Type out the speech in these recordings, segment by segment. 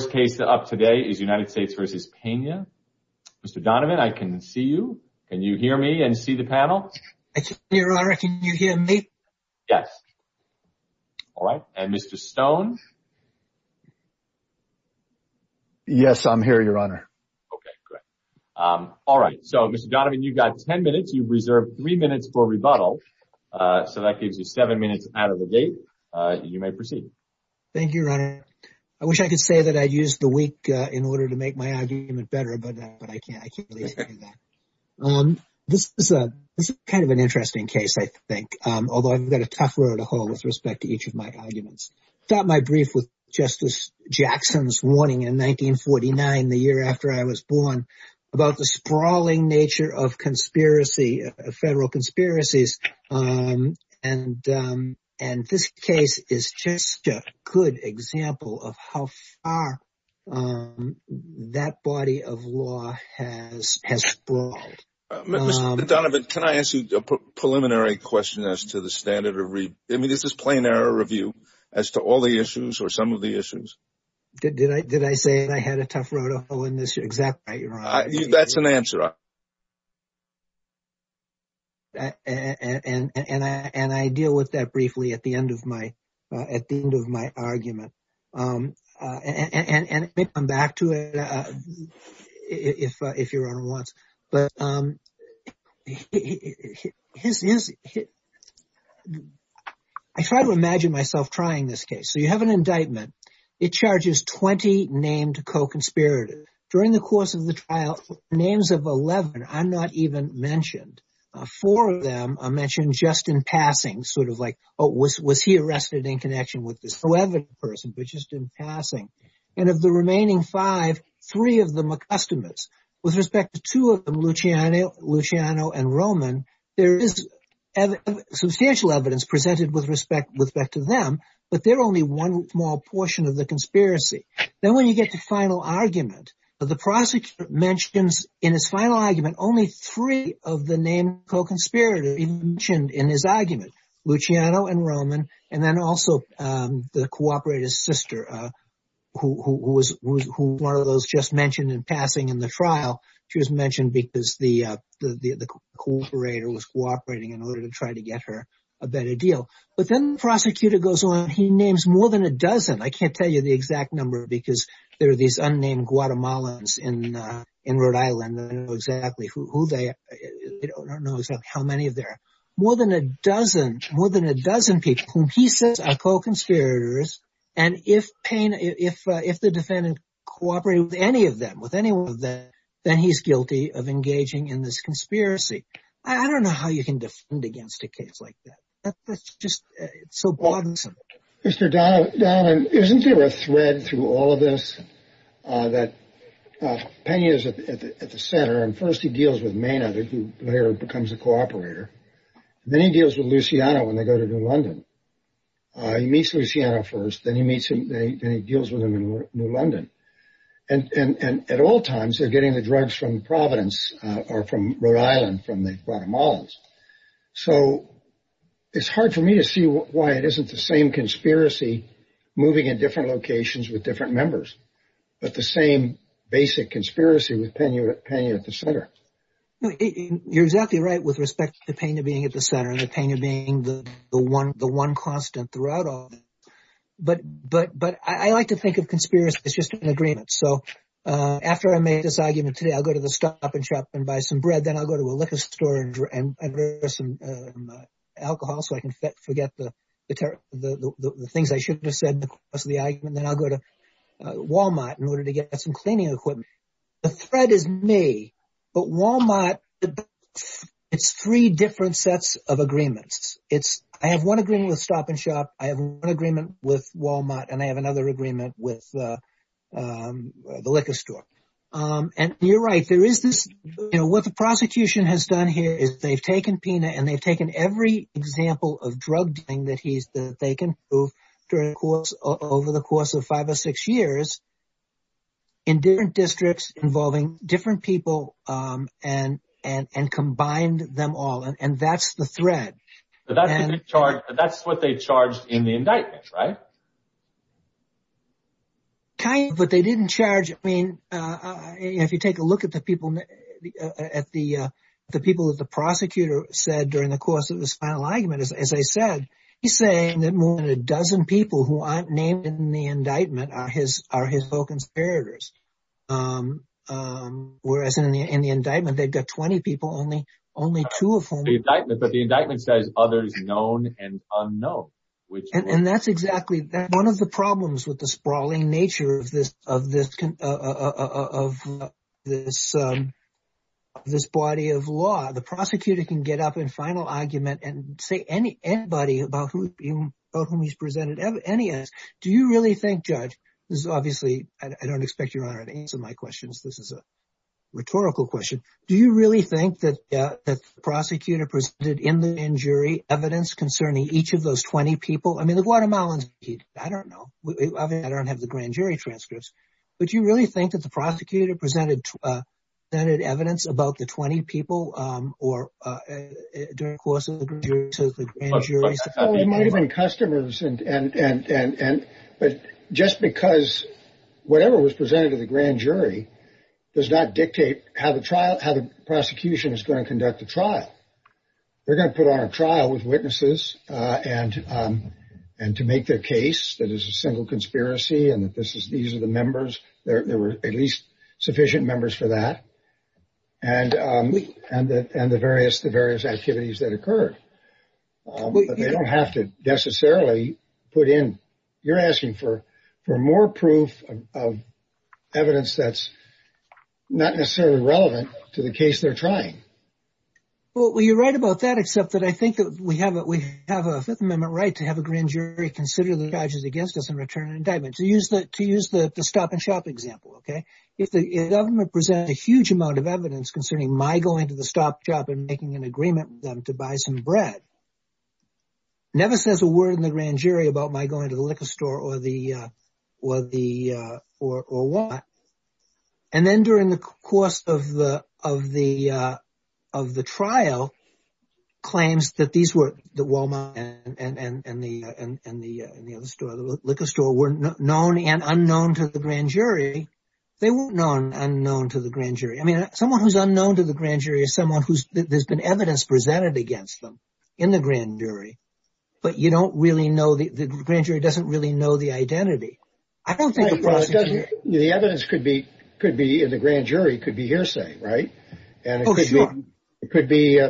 The first case up today is United States v. Pena. Mr. Donovan, I can see you. Can you hear me and see the panel? I can hear you, Your Honor. Can you hear me? Yes. All right. And Mr. Stone? Yes, I'm here, Your Honor. Okay, good. All right. So, Mr. Donovan, you've got ten minutes. You've reserved three minutes for rebuttal. So that gives you seven minutes out of the date. You may proceed. Thank you, Your Honor. I wish I could say that I used the week in order to make my argument better, but I can't. I can't really say that. This is kind of an interesting case, I think, although I've got a tough road to hoe with respect to each of my arguments. I start my brief with Justice Jackson's warning in 1949, the year after I was born, about the sprawling nature of conspiracy, federal conspiracies. And this case is just a good example of how far that body of law has sprawled. Mr. Donovan, can I ask you a preliminary question as to the standard of review? I mean, is this plain error review as to all the issues or some of the issues? Did I say that I had a tough road to hoe in this exact way, Your Honor? That's an answer. And I deal with that briefly at the end of my argument. And I may come back to it if Your Honor wants. But I try to imagine myself trying this case. So you have an indictment. It charges 20 named co-conspirators. During the course of the trial, names of 11 are not even mentioned. Four of them are mentioned just in passing, sort of like, oh, was he arrested in connection with this 11 person, but just in passing. And of the remaining five, three of them are customers. With respect to two of them, Luciano and Roman, there is substantial evidence presented with respect to them. But they're only one small portion of the conspiracy. Then when you get to final argument, the prosecutor mentions in his final argument only three of the named co-conspirators mentioned in his argument, Luciano and Roman. And then also the cooperator's sister, who was one of those just mentioned in passing in the trial. She was mentioned because the cooperator was cooperating in order to try to get her a better deal. But then the prosecutor goes on. He names more than a dozen. I can't tell you the exact number because there are these unnamed Guatemalans in Rhode Island. I don't know exactly who they are. I don't know exactly how many there are. More than a dozen, more than a dozen people whom he says are co-conspirators. And if the defendant cooperated with any of them, with any one of them, then he's guilty of engaging in this conspiracy. I don't know how you can defend against a case like that. That's just so bothersome. Mr. Donovan, isn't there a thread through all of this that Pena is at the center. And first he deals with Maynard, who later becomes a cooperator. Then he deals with Luciano when they go to New London. He meets Luciano first. Then he meets him. Then he deals with him in New London. And at all times, they're getting the drugs from Providence or from Rhode Island, from the Guatemalans. So it's hard for me to see why it isn't the same conspiracy moving in different locations with different members, but the same basic conspiracy with Pena at the center. You're exactly right with respect to Pena being at the center and Pena being the one constant throughout all of it. But I like to think of conspiracy as just an agreement. So after I make this argument today, I'll go to the stop and shop and buy some bread. Then I'll go to a liquor store and buy some alcohol so I can forget the things I shouldn't have said across the argument. Then I'll go to Wal-Mart in order to get some cleaning equipment. The thread is May, but Wal-Mart, it's three different sets of agreements. I have one agreement with stop and shop. I have one agreement with Wal-Mart. And I have another agreement with the liquor store. You're right. What the prosecution has done here is they've taken Pena and they've taken every example of drug dealing that they can prove over the course of five or six years in different districts involving different people and combined them all. And that's the thread. But that's what they charged in the indictment, right? Kind of, but they didn't charge. I mean, if you take a look at the people, at the people that the prosecutor said during the course of this final argument, as I said, he's saying that more than a dozen people who aren't named in the indictment are his co-conspirators. Whereas in the indictment, they've got 20 people, only two of whom. But the indictment says others known and unknown. And that's exactly one of the problems with the sprawling nature of this body of law. The prosecutor can get up in final argument and say anybody about whom he's presented evidence. Do you really think, Judge, this is obviously, I don't expect Your Honor to answer my questions. This is a rhetorical question. Do you really think that the prosecutor presented in the grand jury evidence concerning each of those 20 people? I mean, the Guatemalans, I don't know. I don't have the grand jury transcripts. But do you really think that the prosecutor presented evidence about the 20 people or during the course of the grand jury? Customers and. But just because whatever was presented to the grand jury does not dictate how the trial, how the prosecution is going to conduct the trial. We're going to put on a trial with witnesses and and to make their case that is a single conspiracy. And that this is these are the members. There were at least sufficient members for that. And and the and the various the various activities that occurred. They don't have to necessarily put in. You're asking for for more proof of evidence that's not necessarily relevant to the case they're trying. Well, you're right about that, except that I think we have it. We have a Fifth Amendment right to have a grand jury consider the charges against us and return indictment to use that to use the stop and shop example. OK, if the government present a huge amount of evidence concerning my going to the stop shop and making an agreement to buy some bread. Never says a word in the grand jury about my going to the liquor store or the or the or or what. And then during the course of the of the of the trial claims that these were the Walmart and the and the and the liquor store were known and unknown to the grand jury. They were known and known to the grand jury. I mean, someone who's unknown to the grand jury is someone who's there's been evidence presented against them in the grand jury. But you don't really know the grand jury doesn't really know the identity. I don't think the evidence could be could be in the grand jury, could be hearsay. Right. And it could be it could be,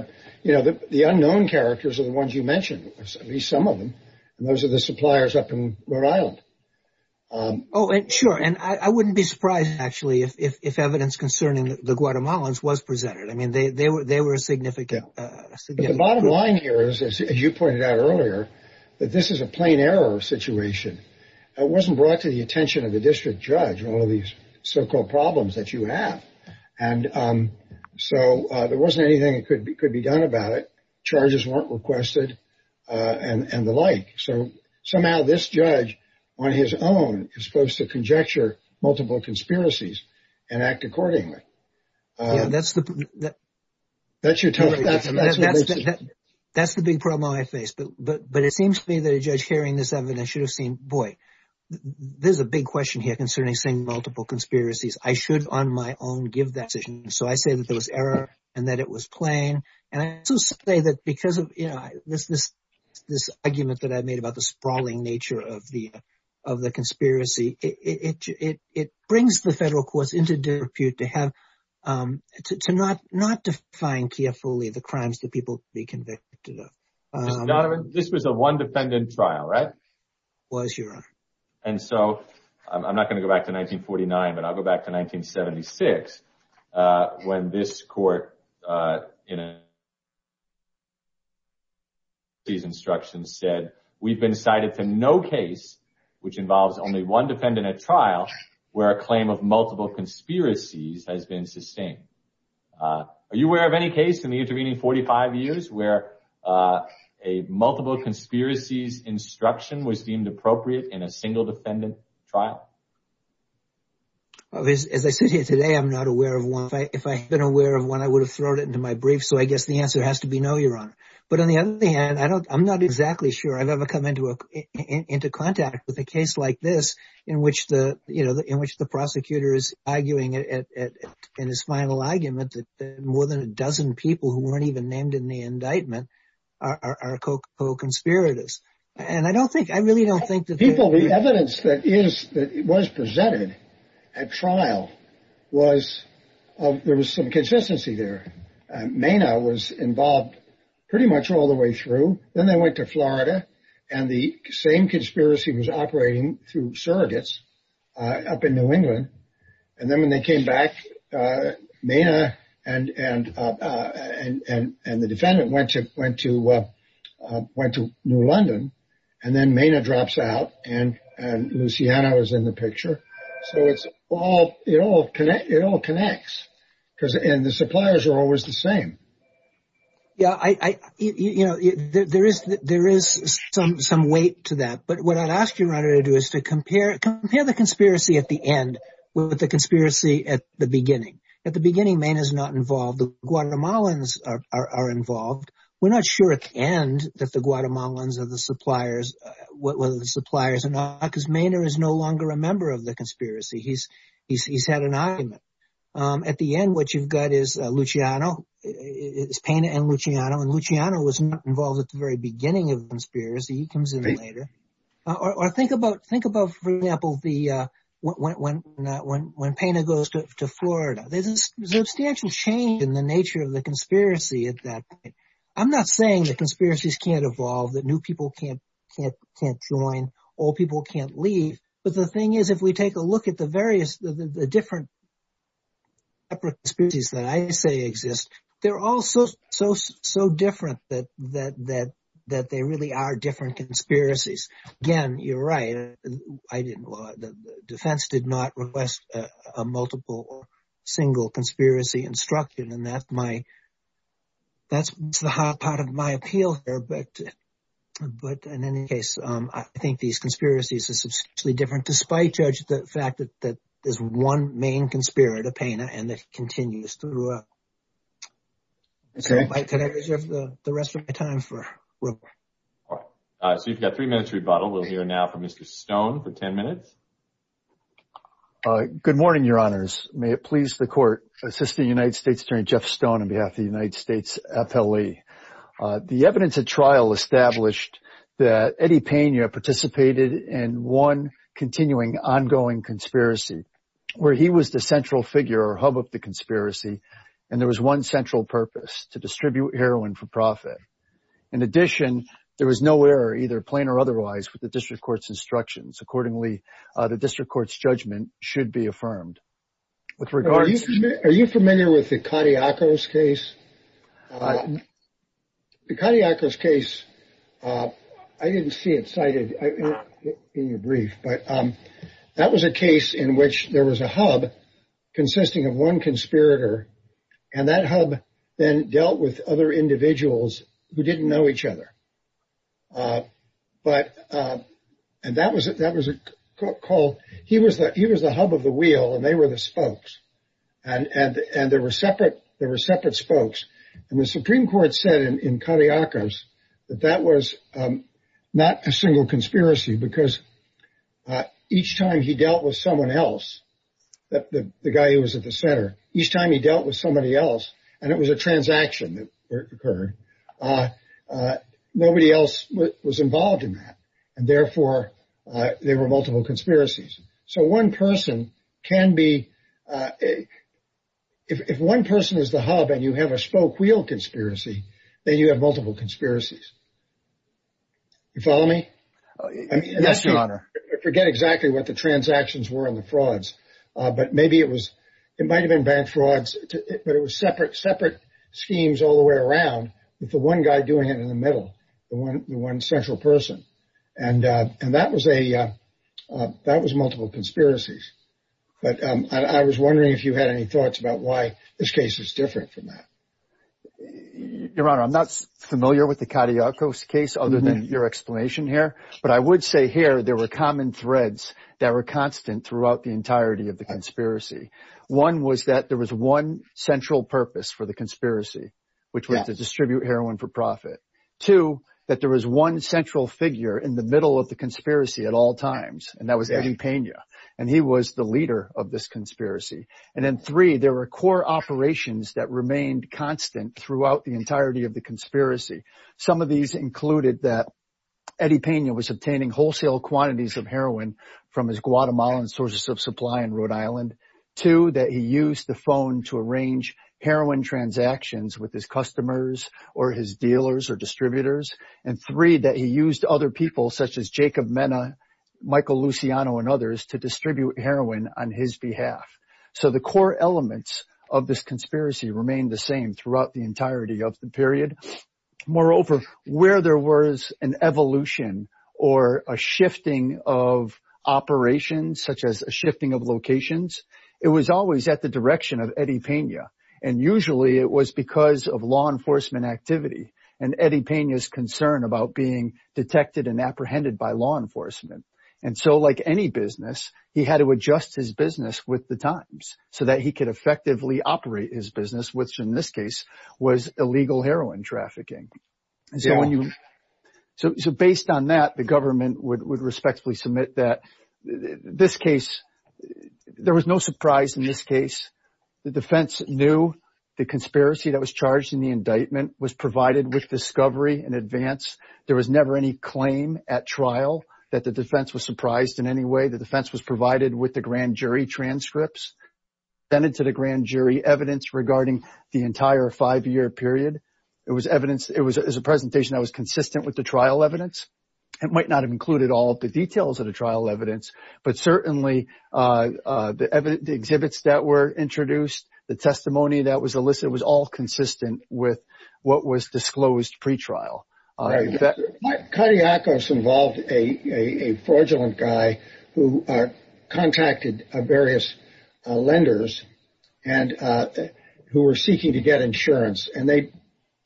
you know, the unknown characters are the ones you mentioned, at least some of them. And those are the suppliers up in Rhode Island. Oh, sure. And I wouldn't be surprised, actually, if evidence concerning the Guatemalans was presented. I mean, they were they were significant. The bottom line here is, as you pointed out earlier, that this is a plain error situation. It wasn't brought to the attention of the district judge. All of these so-called problems that you have. And so there wasn't anything that could be could be done about it. Charges weren't requested and the like. So somehow this judge on his own is supposed to conjecture multiple conspiracies and act accordingly. That's the that's your time. That's the big problem I face. But but but it seems to me that a judge hearing this evidence should have seen. Boy, there's a big question here concerning saying multiple conspiracies. I should on my own give that decision. So I say that there was error and that it was plain. And I also say that because of this, this this argument that I made about the sprawling nature of the of the conspiracy, it it brings the federal courts into dispute to have to not not define carefully the crimes that people be convicted of. This was a one defendant trial, right? Was your. And so I'm not going to go back to 1949, but I'll go back to 1976 when this court, you know. These instructions said we've been cited to no case which involves only one defendant at trial where a claim of multiple conspiracies has been sustained. Are you aware of any case in the intervening 45 years where a multiple conspiracies instruction was deemed appropriate in a single defendant trial? Well, as I said here today, I'm not aware of one. If I had been aware of one, I would have thrown it into my brief. So I guess the answer has to be no, Your Honor. But on the other hand, I don't I'm not exactly sure I've ever come into into contact with a case like this in which the you know, in which the prosecutor is arguing in his final argument that more than a dozen people who weren't even named in the indictment are co-conspirators. And I don't think I really don't think that people the evidence that is that was presented at trial was there was some consistency there. Mena was involved pretty much all the way through. Then they went to Florida and the same conspiracy was operating through surrogates up in New England. And then when they came back, Mena and and and and the defendant went to went to went to New London and then Mena drops out. And and Luciana was in the picture. So it's all you know, it all connects because and the suppliers are always the same. Yeah, I you know, there is there is some some weight to that. But what I'd ask you to do is to compare it, compare the conspiracy at the end with the conspiracy at the beginning. At the beginning, Mena is not involved. The Guatemalans are involved. We're not sure. And that the Guatemalans are the suppliers, whether the suppliers are not because Mena is no longer a member of the conspiracy. He's he's he's had an argument at the end. What you've got is Luciano is Pena and Luciano and Luciano was involved at the very beginning of the conspiracy. He comes in later. Or think about think about, for example, the when when when when Pena goes to Florida, there's a substantial change in the nature of the conspiracy at that point. I'm not saying that conspiracies can't evolve, that new people can't can't can't join or people can't leave. But the thing is, if we take a look at the various the different. These that I say exist, they're all so, so, so different that that that that they really are different conspiracies. Again, you're right. I didn't. The defense did not request a multiple or single conspiracy instruction. And that's my. That's the hot part of my appeal here. But in any case, I think these conspiracies are substantially different, despite judge the fact that that is one main conspirator, Pena, and that continues through. So I could have the rest of my time for. So you've got three minutes rebuttal. We'll hear now from Mr. Stone for 10 minutes. Good morning, Your Honors. May it please the court. Assistant United States Attorney Jeff Stone on behalf of the United States. The evidence of trial established that Eddie Pena participated in one continuing ongoing conspiracy where he was the central figure or hub of the conspiracy. And there was one central purpose to distribute heroin for profit. In addition, there was nowhere either plain or otherwise with the district court's instructions. Accordingly, the district court's judgment should be affirmed with regard. Are you familiar with the cardiac arrest case? The cardiac arrest case. I didn't see it cited in your brief, but that was a case in which there was a hub consisting of one conspirator. And that hub then dealt with other individuals who didn't know each other. But and that was it. That was a call. He was that he was the hub of the wheel and they were the spokes. And and and there were separate there were separate spokes. And the Supreme Court said in cardiac arrest that that was not a single conspiracy because each time he dealt with someone else, that the guy who was at the center, each time he dealt with somebody else and it was a transaction that occurred. Nobody else was involved in that, and therefore there were multiple conspiracies. So one person can be. If one person is the hub and you have a spoke wheel conspiracy, then you have multiple conspiracies. You follow me? Yes, Your Honor. I forget exactly what the transactions were in the frauds, but maybe it was. It might have been bad frauds, but it was separate, separate schemes all the way around with the one guy doing it in the middle. The one the one central person. And and that was a that was multiple conspiracies. But I was wondering if you had any thoughts about why this case is different from that. Your Honor, I'm not familiar with the cardiac arrest case other than your explanation here. But I would say here there were common threads that were constant throughout the entirety of the conspiracy. One was that there was one central purpose for the conspiracy, which was to distribute heroin for profit to that. There was one central figure in the middle of the conspiracy at all times. And that was Eddie Pena. And he was the leader of this conspiracy. And then three, there were core operations that remained constant throughout the entirety of the conspiracy. Some of these included that Eddie Pena was obtaining wholesale quantities of heroin from his Guatemalan sources of supply in Rhode Island. Two, that he used the phone to arrange heroin transactions with his customers or his dealers or distributors. And three, that he used other people such as Jacob Mena, Michael Luciano and others to distribute heroin on his behalf. So the core elements of this conspiracy remained the same throughout the entirety of the period. Moreover, where there was an evolution or a shifting of operations such as a shifting of locations, it was always at the direction of Eddie Pena. And usually it was because of law enforcement activity and Eddie Pena's concern about being detected and apprehended by law enforcement. And so like any business, he had to adjust his business with the times so that he could effectively operate his business, which in this case was illegal heroin trafficking. So based on that, the government would respectfully submit that this case – there was no surprise in this case. The defense knew the conspiracy that was charged in the indictment was provided with discovery in advance. There was never any claim at trial that the defense was surprised in any way. The defense was provided with the grand jury transcripts, sent to the grand jury evidence regarding the entire five-year period. It was evidence – it was a presentation that was consistent with the trial evidence. It might not have included all of the details of the trial evidence, but certainly the exhibits that were introduced, the testimony that was elicited was all consistent with what was disclosed pretrial. All right. Kadiakos involved a fraudulent guy who contacted various lenders who were seeking to get insurance. And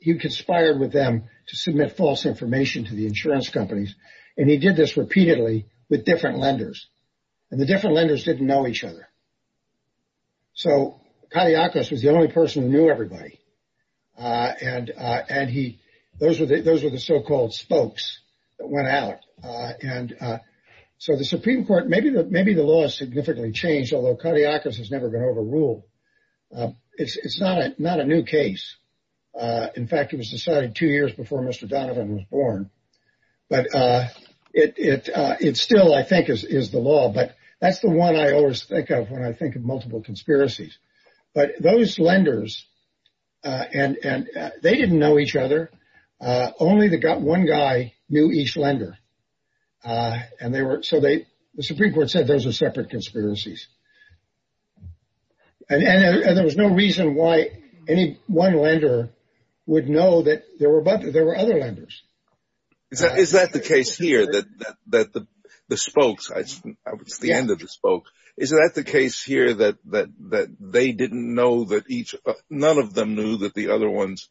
he conspired with them to submit false information to the insurance companies. And he did this repeatedly with different lenders. And the different lenders didn't know each other. So Kadiakos was the only person who knew everybody. And he – those were the so-called spokes that went out. And so the Supreme Court – maybe the law has significantly changed, although Kadiakos has never been overruled. It's not a new case. In fact, it was decided two years before Mr. Donovan was born. But it still, I think, is the law. But that's the one I always think of when I think of multiple conspiracies. But those lenders, they didn't know each other. Only one guy knew each lender. And they were – so the Supreme Court said those were separate conspiracies. And there was no reason why any one lender would know that there were other lenders. Is that the case here, that the spokes – it's the end of the spokes. Is that the case here that they didn't know that each – none of them knew that the other ones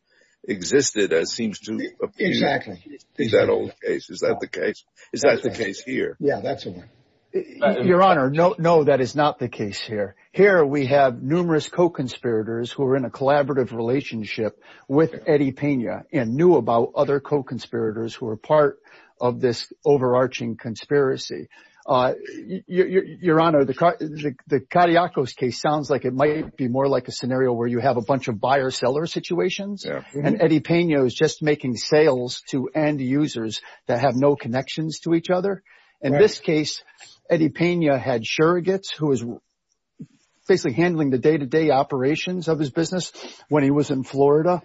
existed as seems to appear? Exactly. Is that all the case? Is that the case? Is that the case here? Yeah, that's the one. Your Honor, no, that is not the case here. Here we have numerous co-conspirators who are in a collaborative relationship with Eddie Pena and knew about other co-conspirators who were part of this overarching conspiracy. Your Honor, the Carriacos case sounds like it might be more like a scenario where you have a bunch of buyer-seller situations. And Eddie Pena is just making sales to end users that have no connections to each other. In this case, Eddie Pena had surrogates who was basically handling the day-to-day operations of his business when he was in Florida,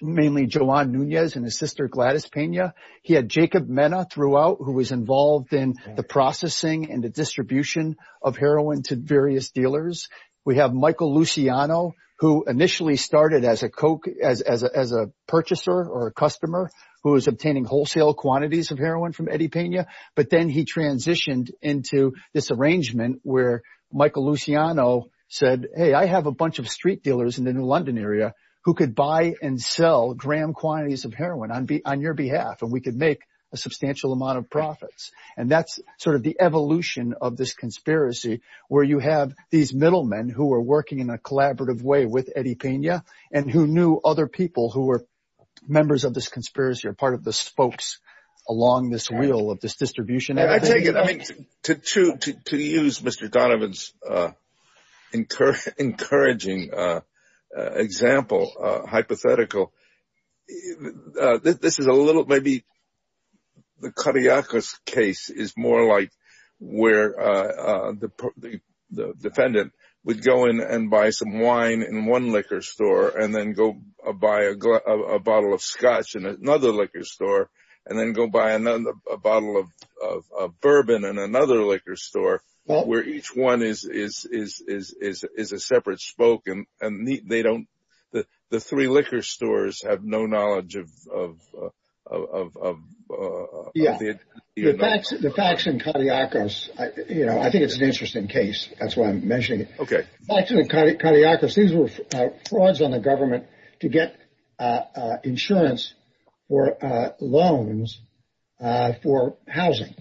mainly Joan Nunez and his sister Gladys Pena. He had Jacob Mena throughout who was involved in the processing and the distribution of heroin to various dealers. We have Michael Luciano who initially started as a purchaser or a customer who was obtaining wholesale quantities of heroin from Eddie Pena. But then he transitioned into this arrangement where Michael Luciano said, hey, I have a bunch of street dealers in the New London area who could buy and sell grand quantities of heroin on your behalf. And we could make a substantial amount of profits. And that's sort of the evolution of this conspiracy where you have these middlemen who are working in a collaborative way with Eddie Pena and who knew other people who were members of this conspiracy or part of the spokes along this wheel of this distribution. I take it, to use Mr. Donovan's encouraging example, hypothetical, this is a little, maybe the Cariacas case is more like where the defendant would go in and buy some wine in one liquor store and then go buy a bottle of scotch in another liquor store and then go buy a bottle of bourbon in another liquor store where each one is a separate spoke and they don't, the three liquor stores have no knowledge of. Yeah, the facts in Cariacas, you know, I think it's an interesting case. That's why I'm mentioning it. Back to the Cariacas, these were frauds on the government to get insurance or loans for housing.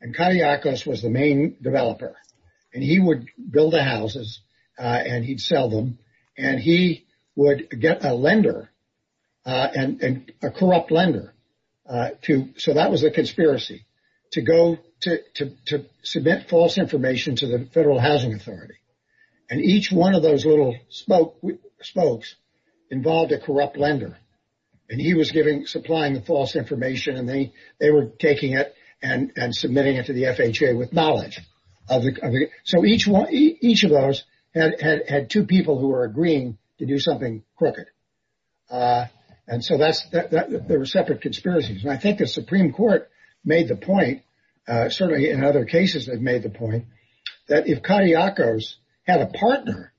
And Cariacas was the main developer. And he would build the houses and he'd sell them and he would get a lender and a corrupt lender to. So that was a conspiracy to go to submit false information to the Federal Housing Authority. And each one of those little spokes involved a corrupt lender. And he was supplying the false information and they were taking it and submitting it to the FHA with knowledge. So each of those had two people who were agreeing to do something crooked. And so there were separate conspiracies. And I think the Supreme Court made the point, certainly in other cases, they've made the point that if Cariacas had a partner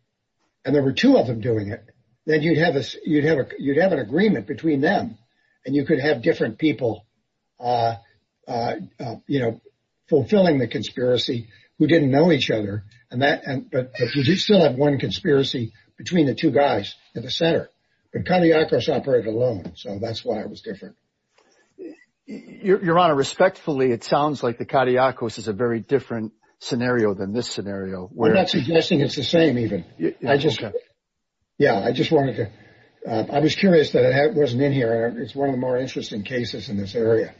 and there were two of them doing it, then you'd have this you'd have you'd have an agreement between them and you could have different people, you know, fulfilling the conspiracy. We didn't know each other and that. But you still have one conspiracy between the two guys at the center. But Cariacas operated alone. So that's why it was different. Your Honor, respectfully, it sounds like the Cariacas is a very different scenario than this scenario. We're not suggesting it's the same even. I just. Yeah, I just wanted to. I was curious that it wasn't in here. It's one of the more interesting cases in this area.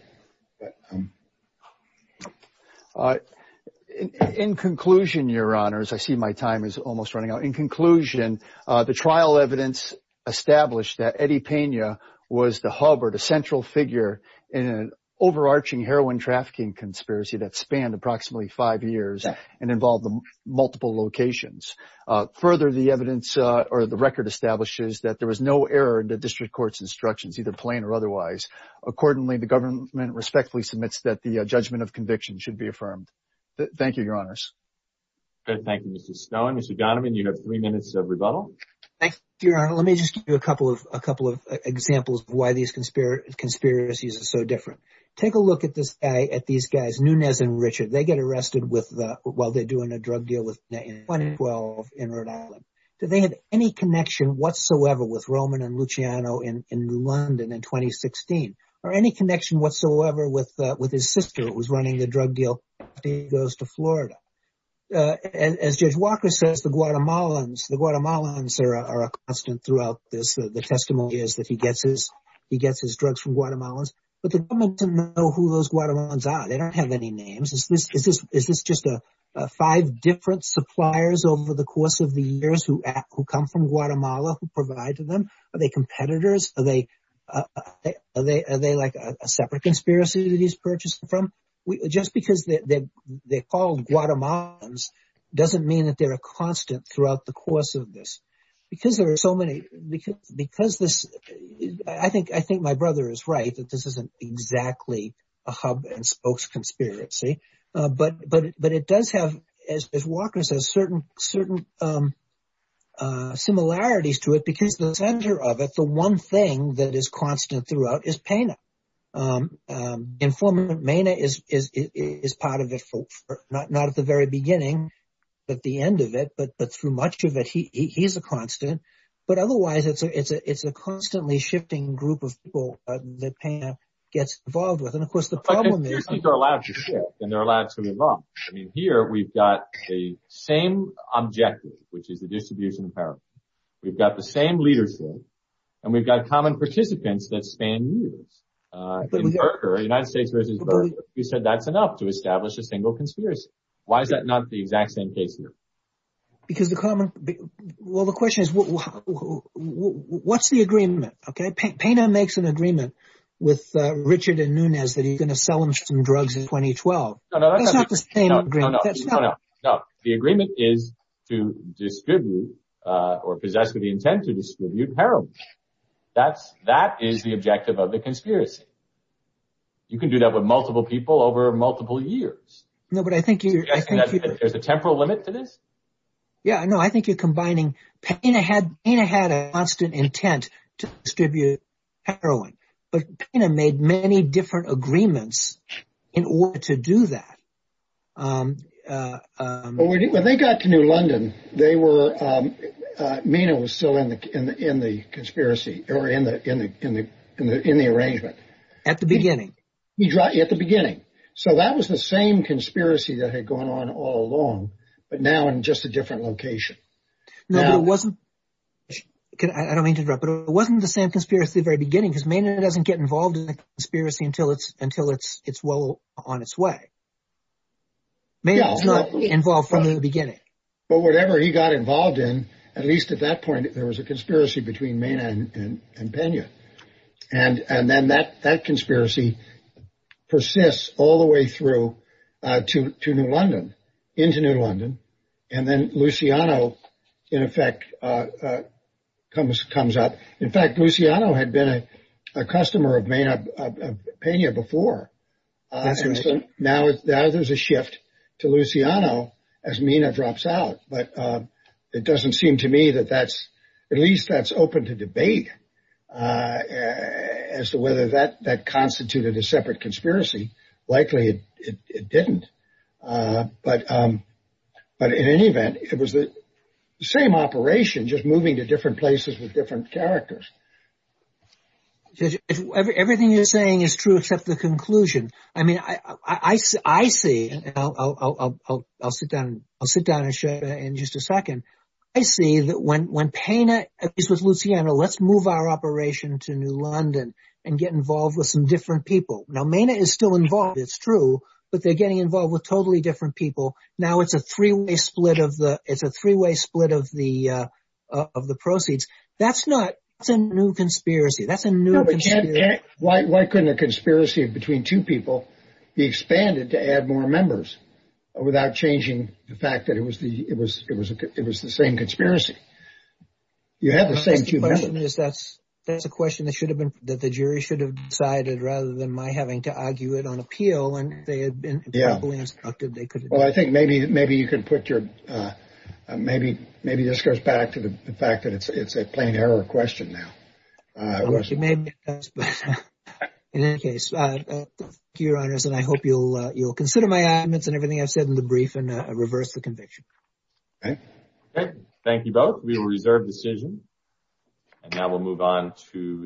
In conclusion, Your Honor, as I see my time is almost running out. In conclusion, the trial evidence established that Eddie Pena was the hub or the central figure in an overarching heroin trafficking conspiracy that spanned approximately five years and involved multiple locations. Further, the evidence or the record establishes that there was no error in the district court's instructions, either plain or otherwise. Accordingly, the government respectfully submits that the judgment of conviction should be affirmed. Thank you, Your Honors. Thank you, Mr. Snow and Mr. Donovan. You have three minutes of rebuttal. Thank you, Your Honor. Let me just give you a couple of a couple of examples of why these conspiracies are so different. Take a look at this guy, at these guys, Nunez and Richard. They get arrested with while they're doing a drug deal with 2012 in Rhode Island. Do they have any connection whatsoever with Roman and Luciano in London in 2016 or any connection whatsoever with his sister who was running the drug deal? He goes to Florida. And as Judge Walker says, the Guatemalans, the Guatemalans are a constant throughout this. The testimony is that he gets his he gets his drugs from Guatemalans. But the government didn't know who those Guatemalans are. They don't have any names. Is this is this just a five different suppliers over the course of the years who who come from Guatemala who provide to them? Are they competitors? Are they like a separate conspiracy that he's purchasing from? Just because they're called Guatemalans doesn't mean that they're a constant throughout the course of this. Because there are so many because because this I think I think my brother is right that this isn't exactly a hub and spokes conspiracy. But but but it does have, as Walker says, certain certain similarities to it, because the center of it, the one thing that is constant throughout is Pena. Informant Mena is is is part of it. Not at the very beginning, but the end of it. But through much of it, he he's a constant. But otherwise, it's a it's a it's a constantly shifting group of people that Pena gets involved with. And of course, the problem is they're allowed to share and they're allowed to be involved. I mean, here we've got the same objective, which is the distribution of power. We've got the same leadership and we've got common participants that span years. But we are in the United States. You said that's enough to establish a single conspiracy. Why is that not the exact same case here? Because the common. Well, the question is, what's the agreement? OK, Pena makes an agreement with Richard and Nunez that he's going to sell them some drugs in 2012. No, no, no, no, no, no. The agreement is to distribute or possess with the intent to distribute heroin. That's that is the objective of the conspiracy. You can do that with multiple people over multiple years. No, but I think there's a temporal limit to this. Yeah, I know. I think you're combining Pena had Pena had a constant intent to distribute heroin. But Pena made many different agreements in order to do that. When they got to New London, they were. Mena was still in the in the conspiracy or in the in the in the in the arrangement at the beginning. He tried at the beginning. So that was the same conspiracy that had gone on all along. But now I'm just a different location. No, it wasn't. I don't mean to interrupt, but it wasn't the same conspiracy very beginning. Because Mena doesn't get involved in the conspiracy until it's until it's it's well on its way. Mena is not involved from the beginning. But whatever he got involved in, at least at that point, there was a conspiracy between Mena and Pena. And and then that that conspiracy persists all the way through to New London, into New London. And then Luciano, in effect, comes comes up. In fact, Luciano had been a customer of Mena Pena before. So now there's a shift to Luciano as Mena drops out. But it doesn't seem to me that that's at least that's open to debate as to whether that that constituted a separate conspiracy. Likely it didn't. But but in any event, it was the same operation just moving to different places with different characters. Everything you're saying is true, except the conclusion. I mean, I see. I'll sit down. I'll sit down and share in just a second. I see that when when Pena is with Luciano, let's move our operation to New London and get involved with some different people. Now, Mena is still involved. It's true. But they're getting involved with totally different people. Now it's a three way split of the it's a three way split of the of the proceeds. That's not a new conspiracy. That's a new. Why couldn't a conspiracy between two people be expanded to add more members without changing the fact that it was the it was it was it was the same conspiracy. You have the same two members. That's that's a question that should have been that the jury should have decided rather than my having to argue it on appeal. And they had been. Yeah. Well, I think maybe maybe you could put your maybe maybe this goes back to the fact that it's a plain error question now. Maybe in any case, your honors, and I hope you'll you'll consider my admittance and everything I've said in the brief and reverse the conviction. And thank you both. We will reserve decision. And now we'll move on to.